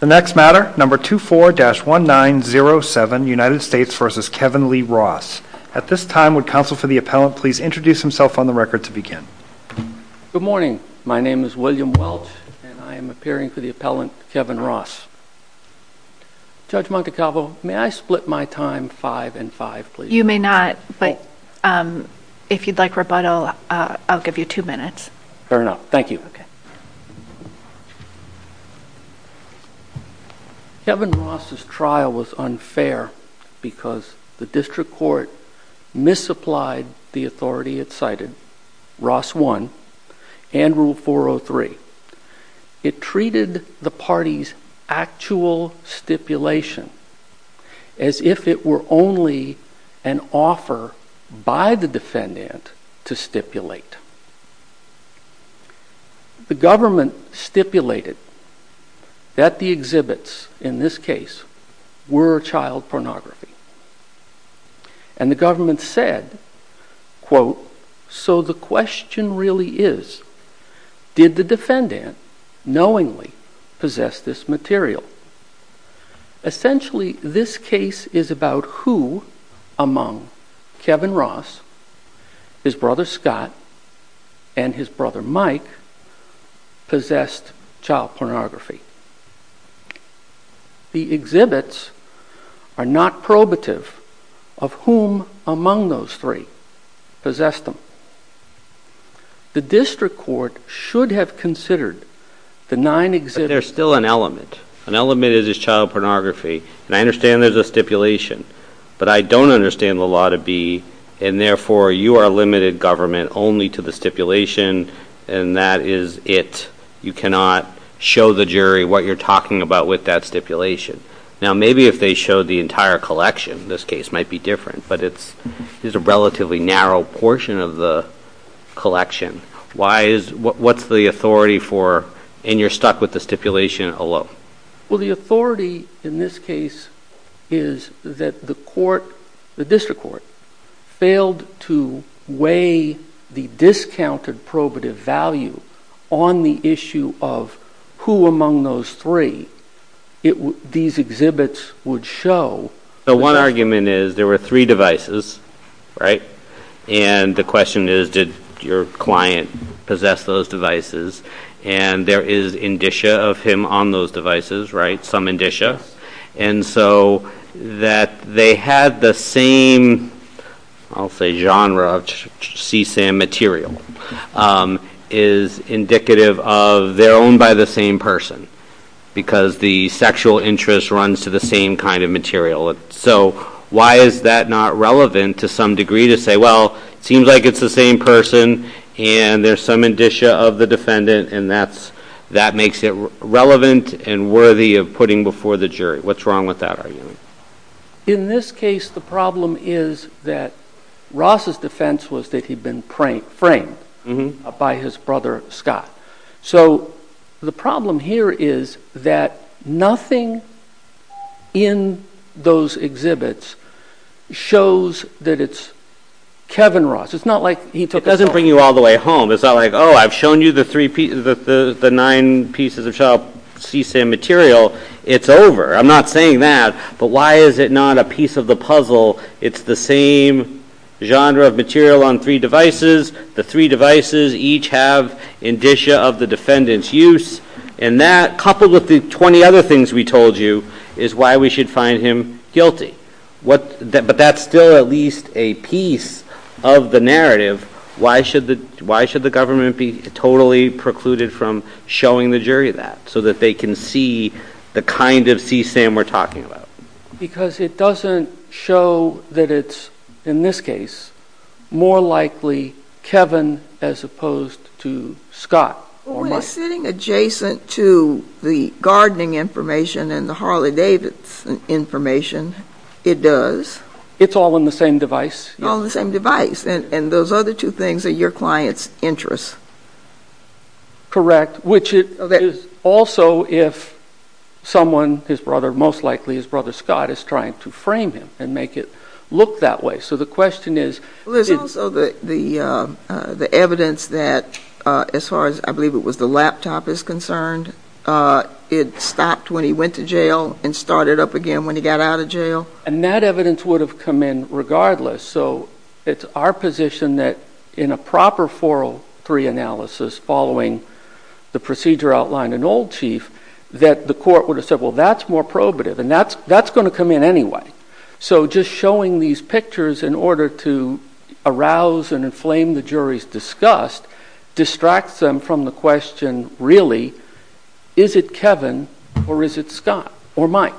The next matter, number 24-1907, United States v. Kevin Lee Ross. At this time, would counsel for the appellant please introduce himself on the record to begin? Good morning. My name is William Welch and I am appearing for the appellant Kevin Ross. Judge Montecalvo, may I split my time five and five, please? You may not, but if you'd like rebuttal, I'll give you two minutes. Fair enough. Thank you. Kevin Ross' trial was unfair because the district court misapplied the authority it cited, Ross 1, and Rule 403. It treated the party's actual stipulation as if it were only an offer by the defendant to stipulate. The government stipulated that the exhibits in this case were child pornography. And the government said, quote, so the question really is, did the defendant knowingly possess this material? Essentially, this case is about who among Kevin Ross, his brother Scott, and his brother Mike possessed child pornography. The exhibits are not probative of whom among those three possessed them. The district court should have considered the nine exhibits. But there's still an element. An element is child pornography, and I understand there's a stipulation. But I don't understand the law to be, and therefore you are limited government only to the stipulation, and that is it. You cannot show the jury what you're talking about with that stipulation. Now maybe if they showed the entire collection, this case might be different, but it's a relatively narrow portion of the collection. What's the authority for, and you're stuck with the stipulation alone. Well, the authority in this case is that the court, the district court, failed to weigh the discounted probative value on the issue of who among those three these exhibits would show. The one argument is there were three devices, right? And the question is, did your client possess those devices? And there is indicia of him on those devices, right? Some indicia. And so that they had the same, I'll say genre of CSAM material, is indicative of they're by the same person, because the sexual interest runs to the same kind of material. So why is that not relevant to some degree to say, well, it seems like it's the same person, and there's some indicia of the defendant, and that makes it relevant and worthy of putting before the jury. What's wrong with that argument? In this case, the problem is that Ross's defense was that he'd been framed by his brother Scott. So the problem here is that nothing in those exhibits shows that it's Kevin Ross. It's not like he took the phone. It doesn't bring you all the way home. It's not like, oh, I've shown you the nine pieces of CSAM material. It's over. I'm not saying that. But why is it not a piece of the puzzle? It's the same genre of material on three devices. The three devices each have indicia of the defendant's use, and that, coupled with the 20 other things we told you, is why we should find him guilty. But that's still at least a piece of the narrative. Why should the government be totally precluded from showing the jury that, so that they can see the kind of CSAM we're talking about? Because it doesn't show that it's, in this case, more likely Kevin as opposed to Scott. Well, when it's sitting adjacent to the gardening information and the Harley-Davidson information, it does. It's all on the same device. All on the same device. And those other two things are your client's interests. Correct. Which is also if someone, his brother, most likely his brother Scott, is trying to frame him and make it look that way. So the question is... Well, there's also the evidence that, as far as I believe it was the laptop is concerned, it stopped when he went to jail and started up again when he got out of jail. And that evidence would have come in regardless. So it's our position that in a proper 403 analysis, following the procedure outlined in Old Chief, that the court would have said, well, that's more probative. And that's going to come in anyway. So just showing these pictures in order to arouse and inflame the jury's disgust distracts them from the question, really, is it Kevin or is it Scott or Mike?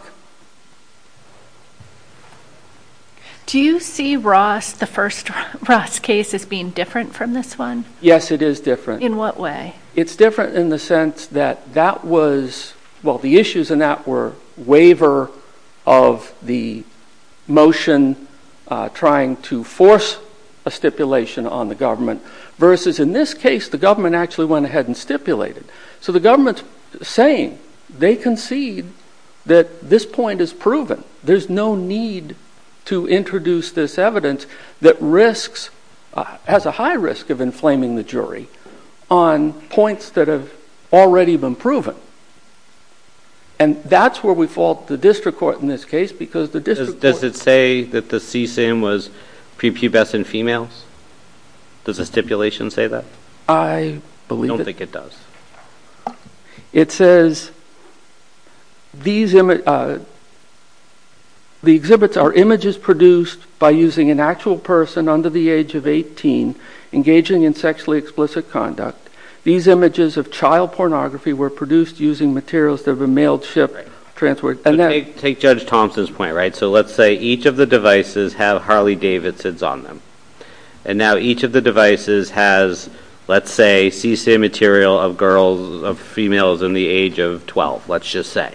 Do you see Ross, the first Ross case, as being different from this one? Yes, it is different. In what way? It's different in the sense that that was, well, the issues in that were waiver of the motion trying to force a stipulation on the government versus in this case, the government actually went ahead and stipulated. So the government's saying they concede that this point is proven. There's no need to introduce this evidence that risks, has a high risk of inflaming the jury on points that have already been proven. And that's where we fault the district court in this case because the district court- Does it say that the CSIM was prepubescent females? Does the stipulation say that? I believe it- It says, the exhibits are images produced by using an actual person under the age of 18 engaging in sexually explicit conduct. These images of child pornography were produced using materials that have been mailed, shipped, transferred- Take Judge Thompson's point, right? So let's say each of the devices have Harley Davidson's on them and now each of the devices has, let's say, CSIM material of girls, of females in the age of 12, let's just say.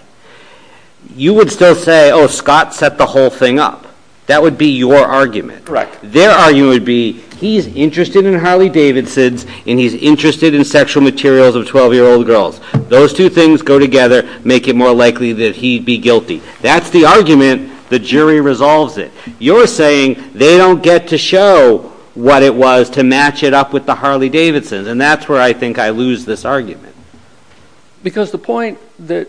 You would still say, oh, Scott set the whole thing up. That would be your argument. Their argument would be, he's interested in Harley Davidson's and he's interested in sexual materials of 12-year-old girls. Those two things go together, make it more likely that he'd be guilty. That's the argument. The jury resolves it. You're saying they don't get to show what it was to match it up with the Harley Davidson's and that's where I think I lose this argument. Because the point that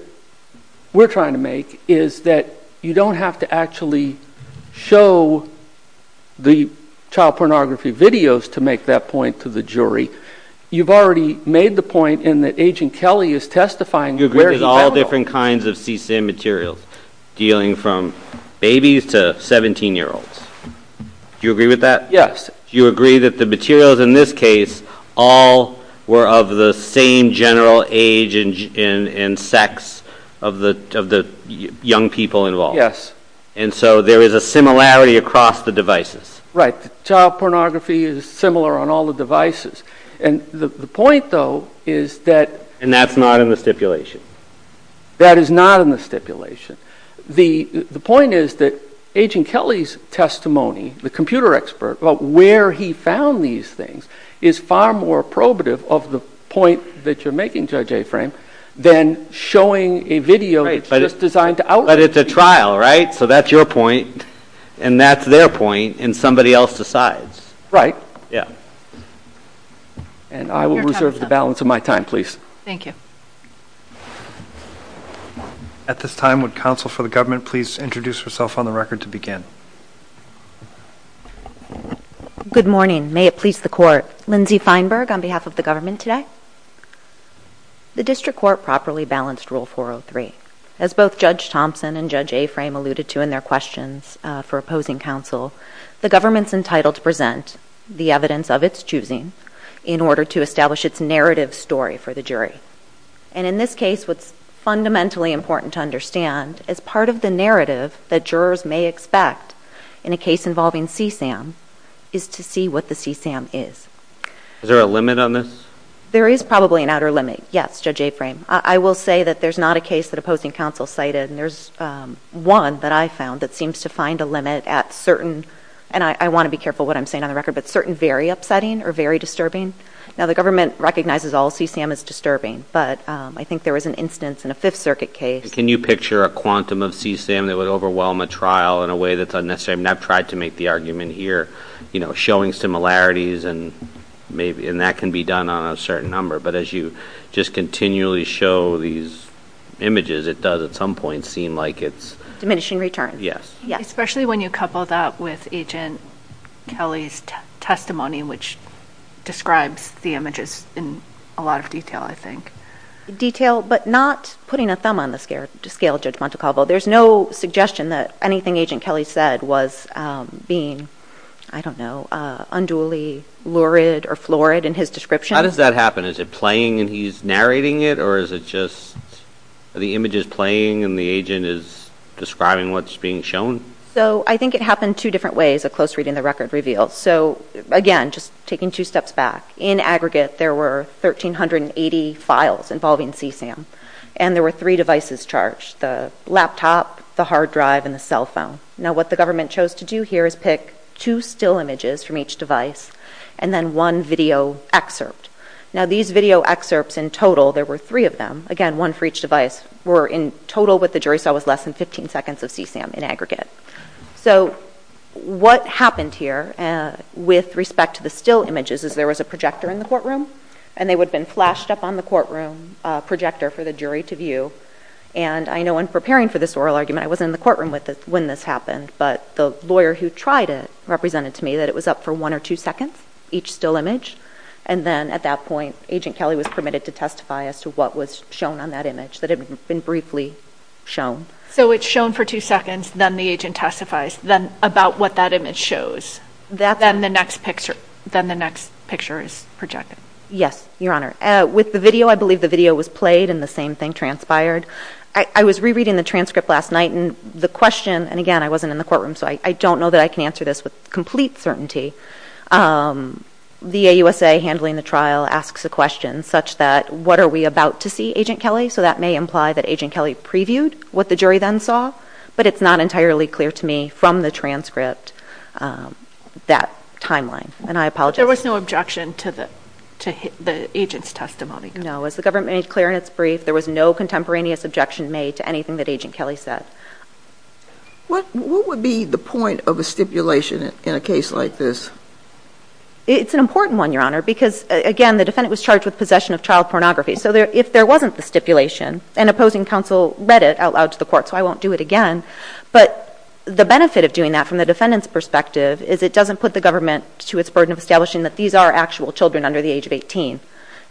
we're trying to make is that you don't have to actually show the child pornography videos to make that point to the jury. You've already made the point in that Agent Kelly is testifying- You agree there's all different kinds of CSIM materials dealing from babies to 17-year-olds. Do you agree with that? Yes. Do you agree that the materials in this case all were of the same general age and sex of the young people involved? Yes. And so there is a similarity across the devices. Right. Child pornography is similar on all the devices. And the point, though, is that- And that's not in the stipulation. That is not in the stipulation. The point is that Agent Kelly's testimony, the computer expert, about where he found these things is far more probative of the point that you're making, Judge Aframe, than showing a video that's just designed to outweigh- But it's a trial, right? So that's your point and that's their point and somebody else decides. Right. Yeah. And I will reserve the balance of my time, please. Thank you. At this time, would counsel for the government please introduce herself on the record to begin? Good morning. May it please the Court. Lindsay Feinberg on behalf of the government today. The District Court properly balanced Rule 403. As both Judge Thompson and Judge Aframe alluded to in their questions for opposing counsel, the government's entitled to present the evidence of its choosing in order to establish its narrative story for the jury. And in this case, what's fundamentally important to understand as part of the narrative that jurors may expect in a case involving CSAM is to see what the CSAM is. Is there a limit on this? There is probably an outer limit. Yes, Judge Aframe. I will say that there's not a case that opposing counsel cited and there's one that I found that seems to find a limit at certain, and I want to be careful what I'm saying on the record, but certain very upsetting or very disturbing. Now, the government recognizes all CSAM as disturbing, but I think there was an instance in a Fifth Circuit case. Can you picture a quantum of CSAM that would overwhelm a trial in a way that's unnecessary? I've tried to make the argument here, you know, showing similarities and that can be done on a certain number, but as you just continually show these images, it does at some point seem like it's – Diminishing returns. Yes. Especially when you couple that with Agent Kelly's testimony, which describes the images in a lot of detail, I think. Detail but not putting a thumb on the scale, Judge Montecalvo. There's no suggestion that anything Agent Kelly said was being, I don't know, unduly lurid or florid in his description. How does that happen? Is it playing and he's narrating it or is it just the image is playing and the agent is describing what's being shown? So I think it happened two different ways of close reading the record reveal. So again, just taking two steps back, in aggregate there were 1,380 files involving CSAM and there were three devices charged, the laptop, the hard drive, and the cell phone. Now what the government chose to do here is pick two still images from each device and then one video excerpt. Now these video excerpts in total, there were three of them, again, one for each device, were in total what the jury saw was less than 15 seconds of CSAM in aggregate. So what happened here with respect to the still images is there was a projector in the courtroom and they would have been flashed up on the courtroom projector for the jury to view. And I know in preparing for this oral argument, I wasn't in the courtroom when this happened, but the lawyer who tried it represented to me that it was up for one or two seconds, each still image. And then at that point, Agent Kelly was permitted to testify as to what was shown on that image, that it had been briefly shown. So it's shown for two seconds, then the agent testifies about what that image shows. Then the next picture is projected. Yes, Your Honor. With the video, I believe the video was played and the same thing transpired. I was rereading the transcript last night and the question, and again, I wasn't in the courtroom so I don't know that I can answer this with complete certainty. The AUSA handling the trial asks a question such that, what are we about to see, Agent Kelly? So that may imply that Agent Kelly previewed what the jury then saw, but it's not entirely clear to me from the transcript, that timeline. And I apologize. There was no objection to the agent's testimony. No, as the government made clear in its brief, there was no contemporaneous objection made to anything that Agent Kelly said. What would be the point of a stipulation in a case like this? It's an important one, Your Honor, because again, the defendant was charged with possession of child pornography. So if there wasn't the stipulation, an opposing counsel read it out loud to the court, so I won't do it again, but the benefit of doing that from the defendant's perspective is it doesn't put the government to its burden of establishing that these are actual children under the age of 18.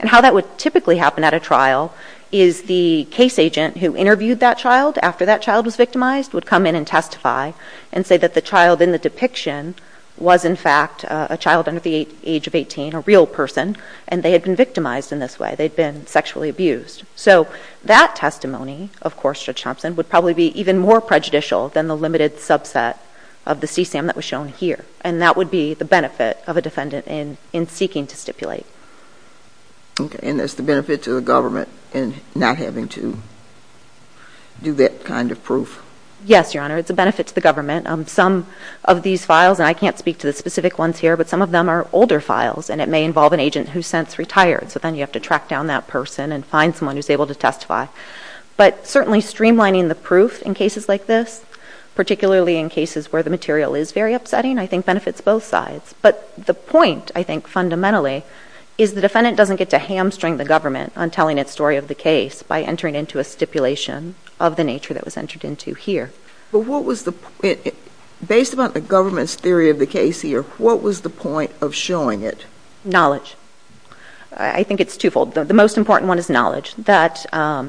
And how that would typically happen at a trial is the case agent who interviewed that child after that child was victimized would come in and testify and say that the child in the depiction was in fact a child under the age of 18, a real person, and they had been victimized in this way. They'd been sexually abused. So that testimony, of course, Judge Thompson, would probably be even more prejudicial than the limited subset of the CSAM that was shown here. And that would be the benefit of a defendant in seeking to stipulate. Okay. And that's the benefit to the government in not having to do that kind of proof? Yes, Your Honor. It's a benefit to the government. Some of these files, and I can't speak to the specific ones here, but some of them are older files, and it may involve an agent who's since retired. So then you have to track down that person and find someone who's able to testify. But certainly streamlining the proof in cases like this, particularly in cases where the material is very upsetting, I think benefits both sides. But the point, I think fundamentally, is the defendant doesn't get to hamstring the government on telling its story of the case by entering into a stipulation of the nature that was entered into here. But what was the – based upon the government's theory of the case here, what was the point of showing it? Knowledge. I think it's twofold. The most important one is knowledge, that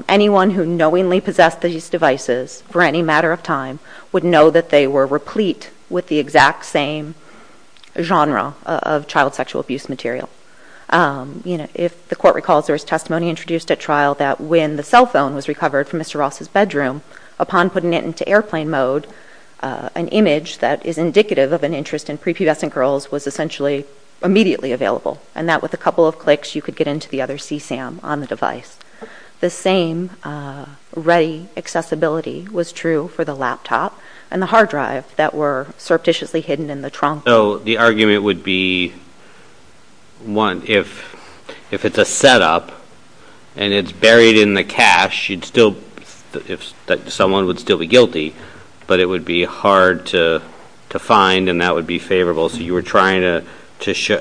anyone who knowingly possessed these devices for any matter of time would know that they were replete with the exact same genre of child sexual abuse material. If the Court recalls there was testimony introduced at trial that when the cell phone was recovered from Mr. Ross's bedroom, upon putting it into airplane mode, an image that is indicative of an interest in prepubescent girls was essentially immediately available. And that with a couple of clicks, you could get into the other CSAM on the device. The same ready accessibility was true for the laptop and the hard drive that were surreptitiously hidden in the trunk. So the argument would be, one, if it's a setup and it's buried in the cache, you'd still be guilty, but it would be hard to find and that would be favorable. So you were trying to –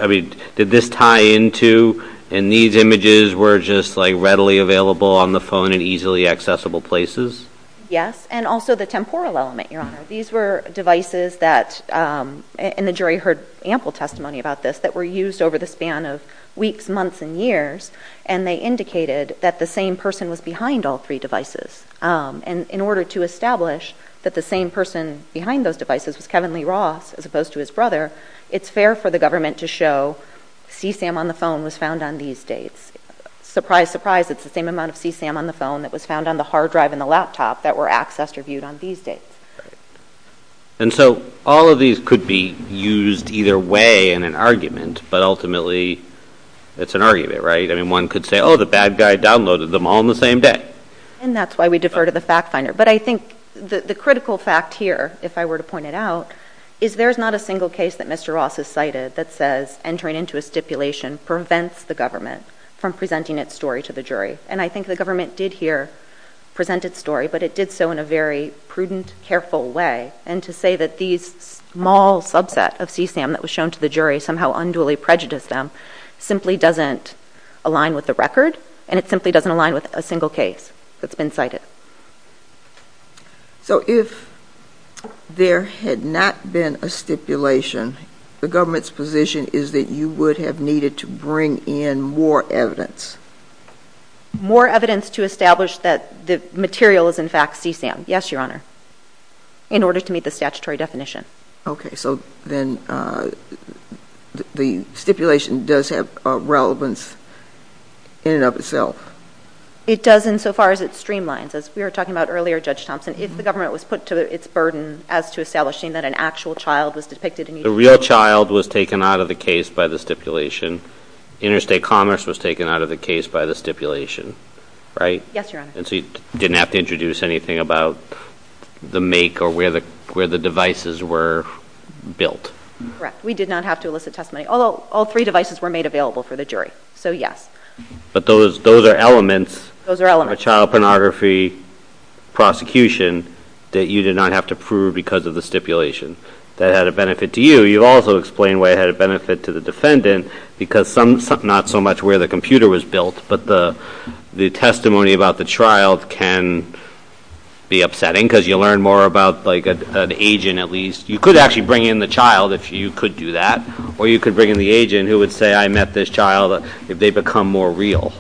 I mean, did this tie into – and these images were just like readily available on the phone in easily accessible places? Yes. And also the temporal element, Your Honor. These were devices that – and the jury heard ample testimony about this – that were used over the span of weeks, months, and years. And they indicated that the same person was behind all three devices. And in order to establish that the same person behind those devices was Kevin Lee Ross as opposed to his brother, it's fair for the government to show CSAM on the phone was found on these dates. Surprise, surprise, it's the same amount of CSAM on the phone that was found on the hard drive and the laptop that were accessed or viewed on these dates. And so all of these could be used either way in an argument, but ultimately it's an argument, right? I mean, one could say, oh, the bad guy downloaded them all on the same day. And that's why we defer to the fact finder. But I think the critical fact here, if I were to point it out, is there's not a single case that Mr. Ross has cited that says entering into a stipulation prevents the government from presenting its story to the jury. And I think the government did here present its story, but it did so in a very prudent, careful way. And to say that these small subset of CSAM that was shown to the jury somehow unduly prejudiced them simply doesn't align with the record, and it simply doesn't align with a single case that's been cited. So if there had not been a stipulation, the government's position is that you would have needed to bring in more evidence? More evidence to establish that the material is in fact CSAM, yes, Your Honor, in order to meet the statutory definition. Okay. So then the stipulation does have a relevance in and of itself? It does insofar as it streamlines. As we were talking about earlier, Judge Thompson, if the government was put to its burden as to establishing that an actual child was depicted in each case. The real child was taken out of the case by the stipulation. Interstate commerce was taken out of the case by the stipulation, right? Yes, Your Honor. And so you didn't have to introduce anything about the make or where the devices were built? Correct. We did not have to elicit testimony, although all three devices were made available for the jury. So yes. But those are elements of a child pornography prosecution that you did not have to prove because of the stipulation. That had a benefit to you. You also explained why it had a benefit to the defendant, because not so much where the computer was built, but the testimony about the child can be upsetting because you learn more about an agent, at least. You could actually bring in the child if you could do that, or you could bring in the agent who would say, I met this child, if they become more real.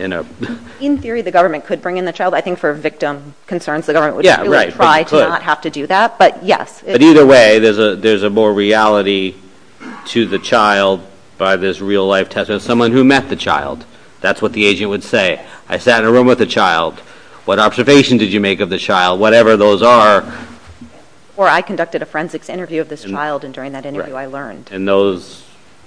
In theory, the government could bring in the child. I think for victim concerns, the government would try to not have to do that. But yes. But either way, there's a more reality to the child by this real-life testimony of someone who met the child. That's what the agent would say. I sat in a room with the child. What observation did you make of the child? Whatever those are. Or I conducted a forensics interview of this child, and during that interview, I learned. And those,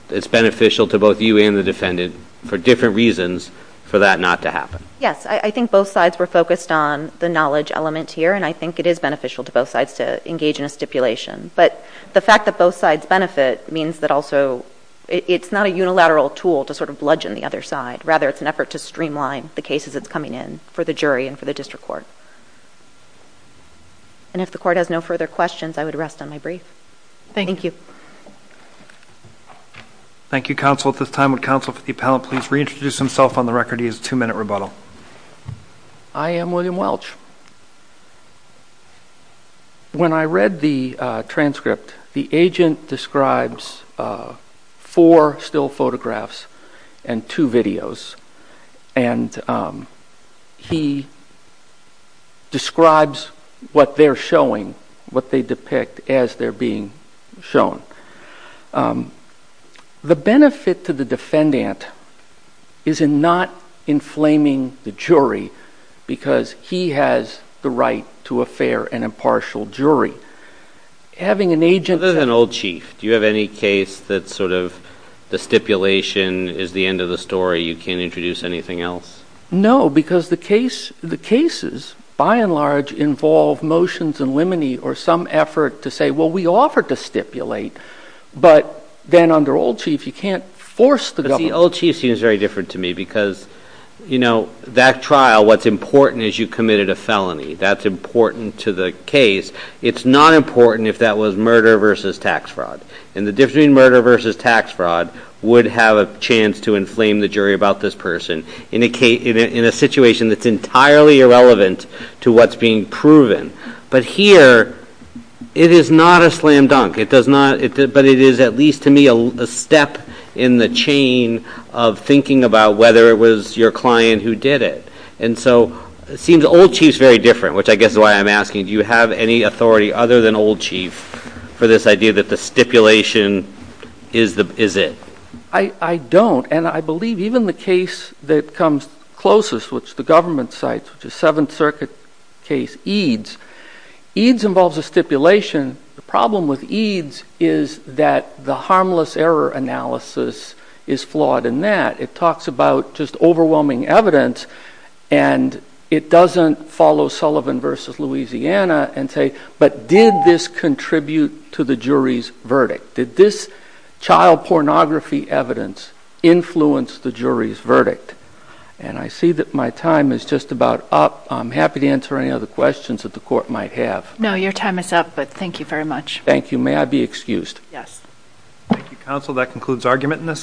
it's beneficial to both you and the defendant for different reasons for that not to happen. Yes. I think both sides were focused on the knowledge element here, and I think it is beneficial to both sides to engage in a stipulation. But the fact that both sides benefit means that also it's not a unilateral tool to sort of bludgeon the other side. Rather, it's an effort to streamline the cases that's coming in for the jury and for the district court. And if the court has no further questions, I would rest on my brief. Thank you. Thank you, counsel. At this time, would counsel for the appellant please reintroduce himself on the record? He has a two-minute rebuttal. I am William Welch. When I read the transcript, the agent describes four still photographs and two videos. And he describes what they're showing, what they depict as they're being shown. The benefit to the defendant is in not inflaming the jury because he has the right to a fair and impartial jury. Having an agent... Other than Old Chief, do you have any case that sort of the stipulation is the end of the story, you can't introduce anything else? No, because the cases, by and large, involve motions and limine or some effort to say, well, we offered to stipulate, but then under Old Chief, you can't force the government. But see, Old Chief seems very different to me because that trial, what's important is you committed a felony. That's important to the case. It's not important if that was murder versus tax fraud. And the difference between murder versus tax fraud would have a chance to inflame the jury about this person in a situation that's entirely irrelevant to what's being proven. But here, it is not a slam dunk, but it is, at least to me, a step in the chain of thinking about whether it was your client who did it. And so it seems Old Chief's very different, which I guess is why I'm asking, do you have any authority other than Old Chief for this idea that the stipulation is it? I don't. And I believe even the case that comes closest, which the government cites, which is Seventh Eid's involves a stipulation. The problem with Eid's is that the harmless error analysis is flawed in that. It talks about just overwhelming evidence, and it doesn't follow Sullivan versus Louisiana and say, but did this contribute to the jury's verdict? Did this child pornography evidence influence the jury's verdict? And I see that my time is just about up. I'm happy to answer any other questions that the court might have. No, your time is up, but thank you very much. Thank you. May I be excused? Thank you, counsel. That concludes argument in this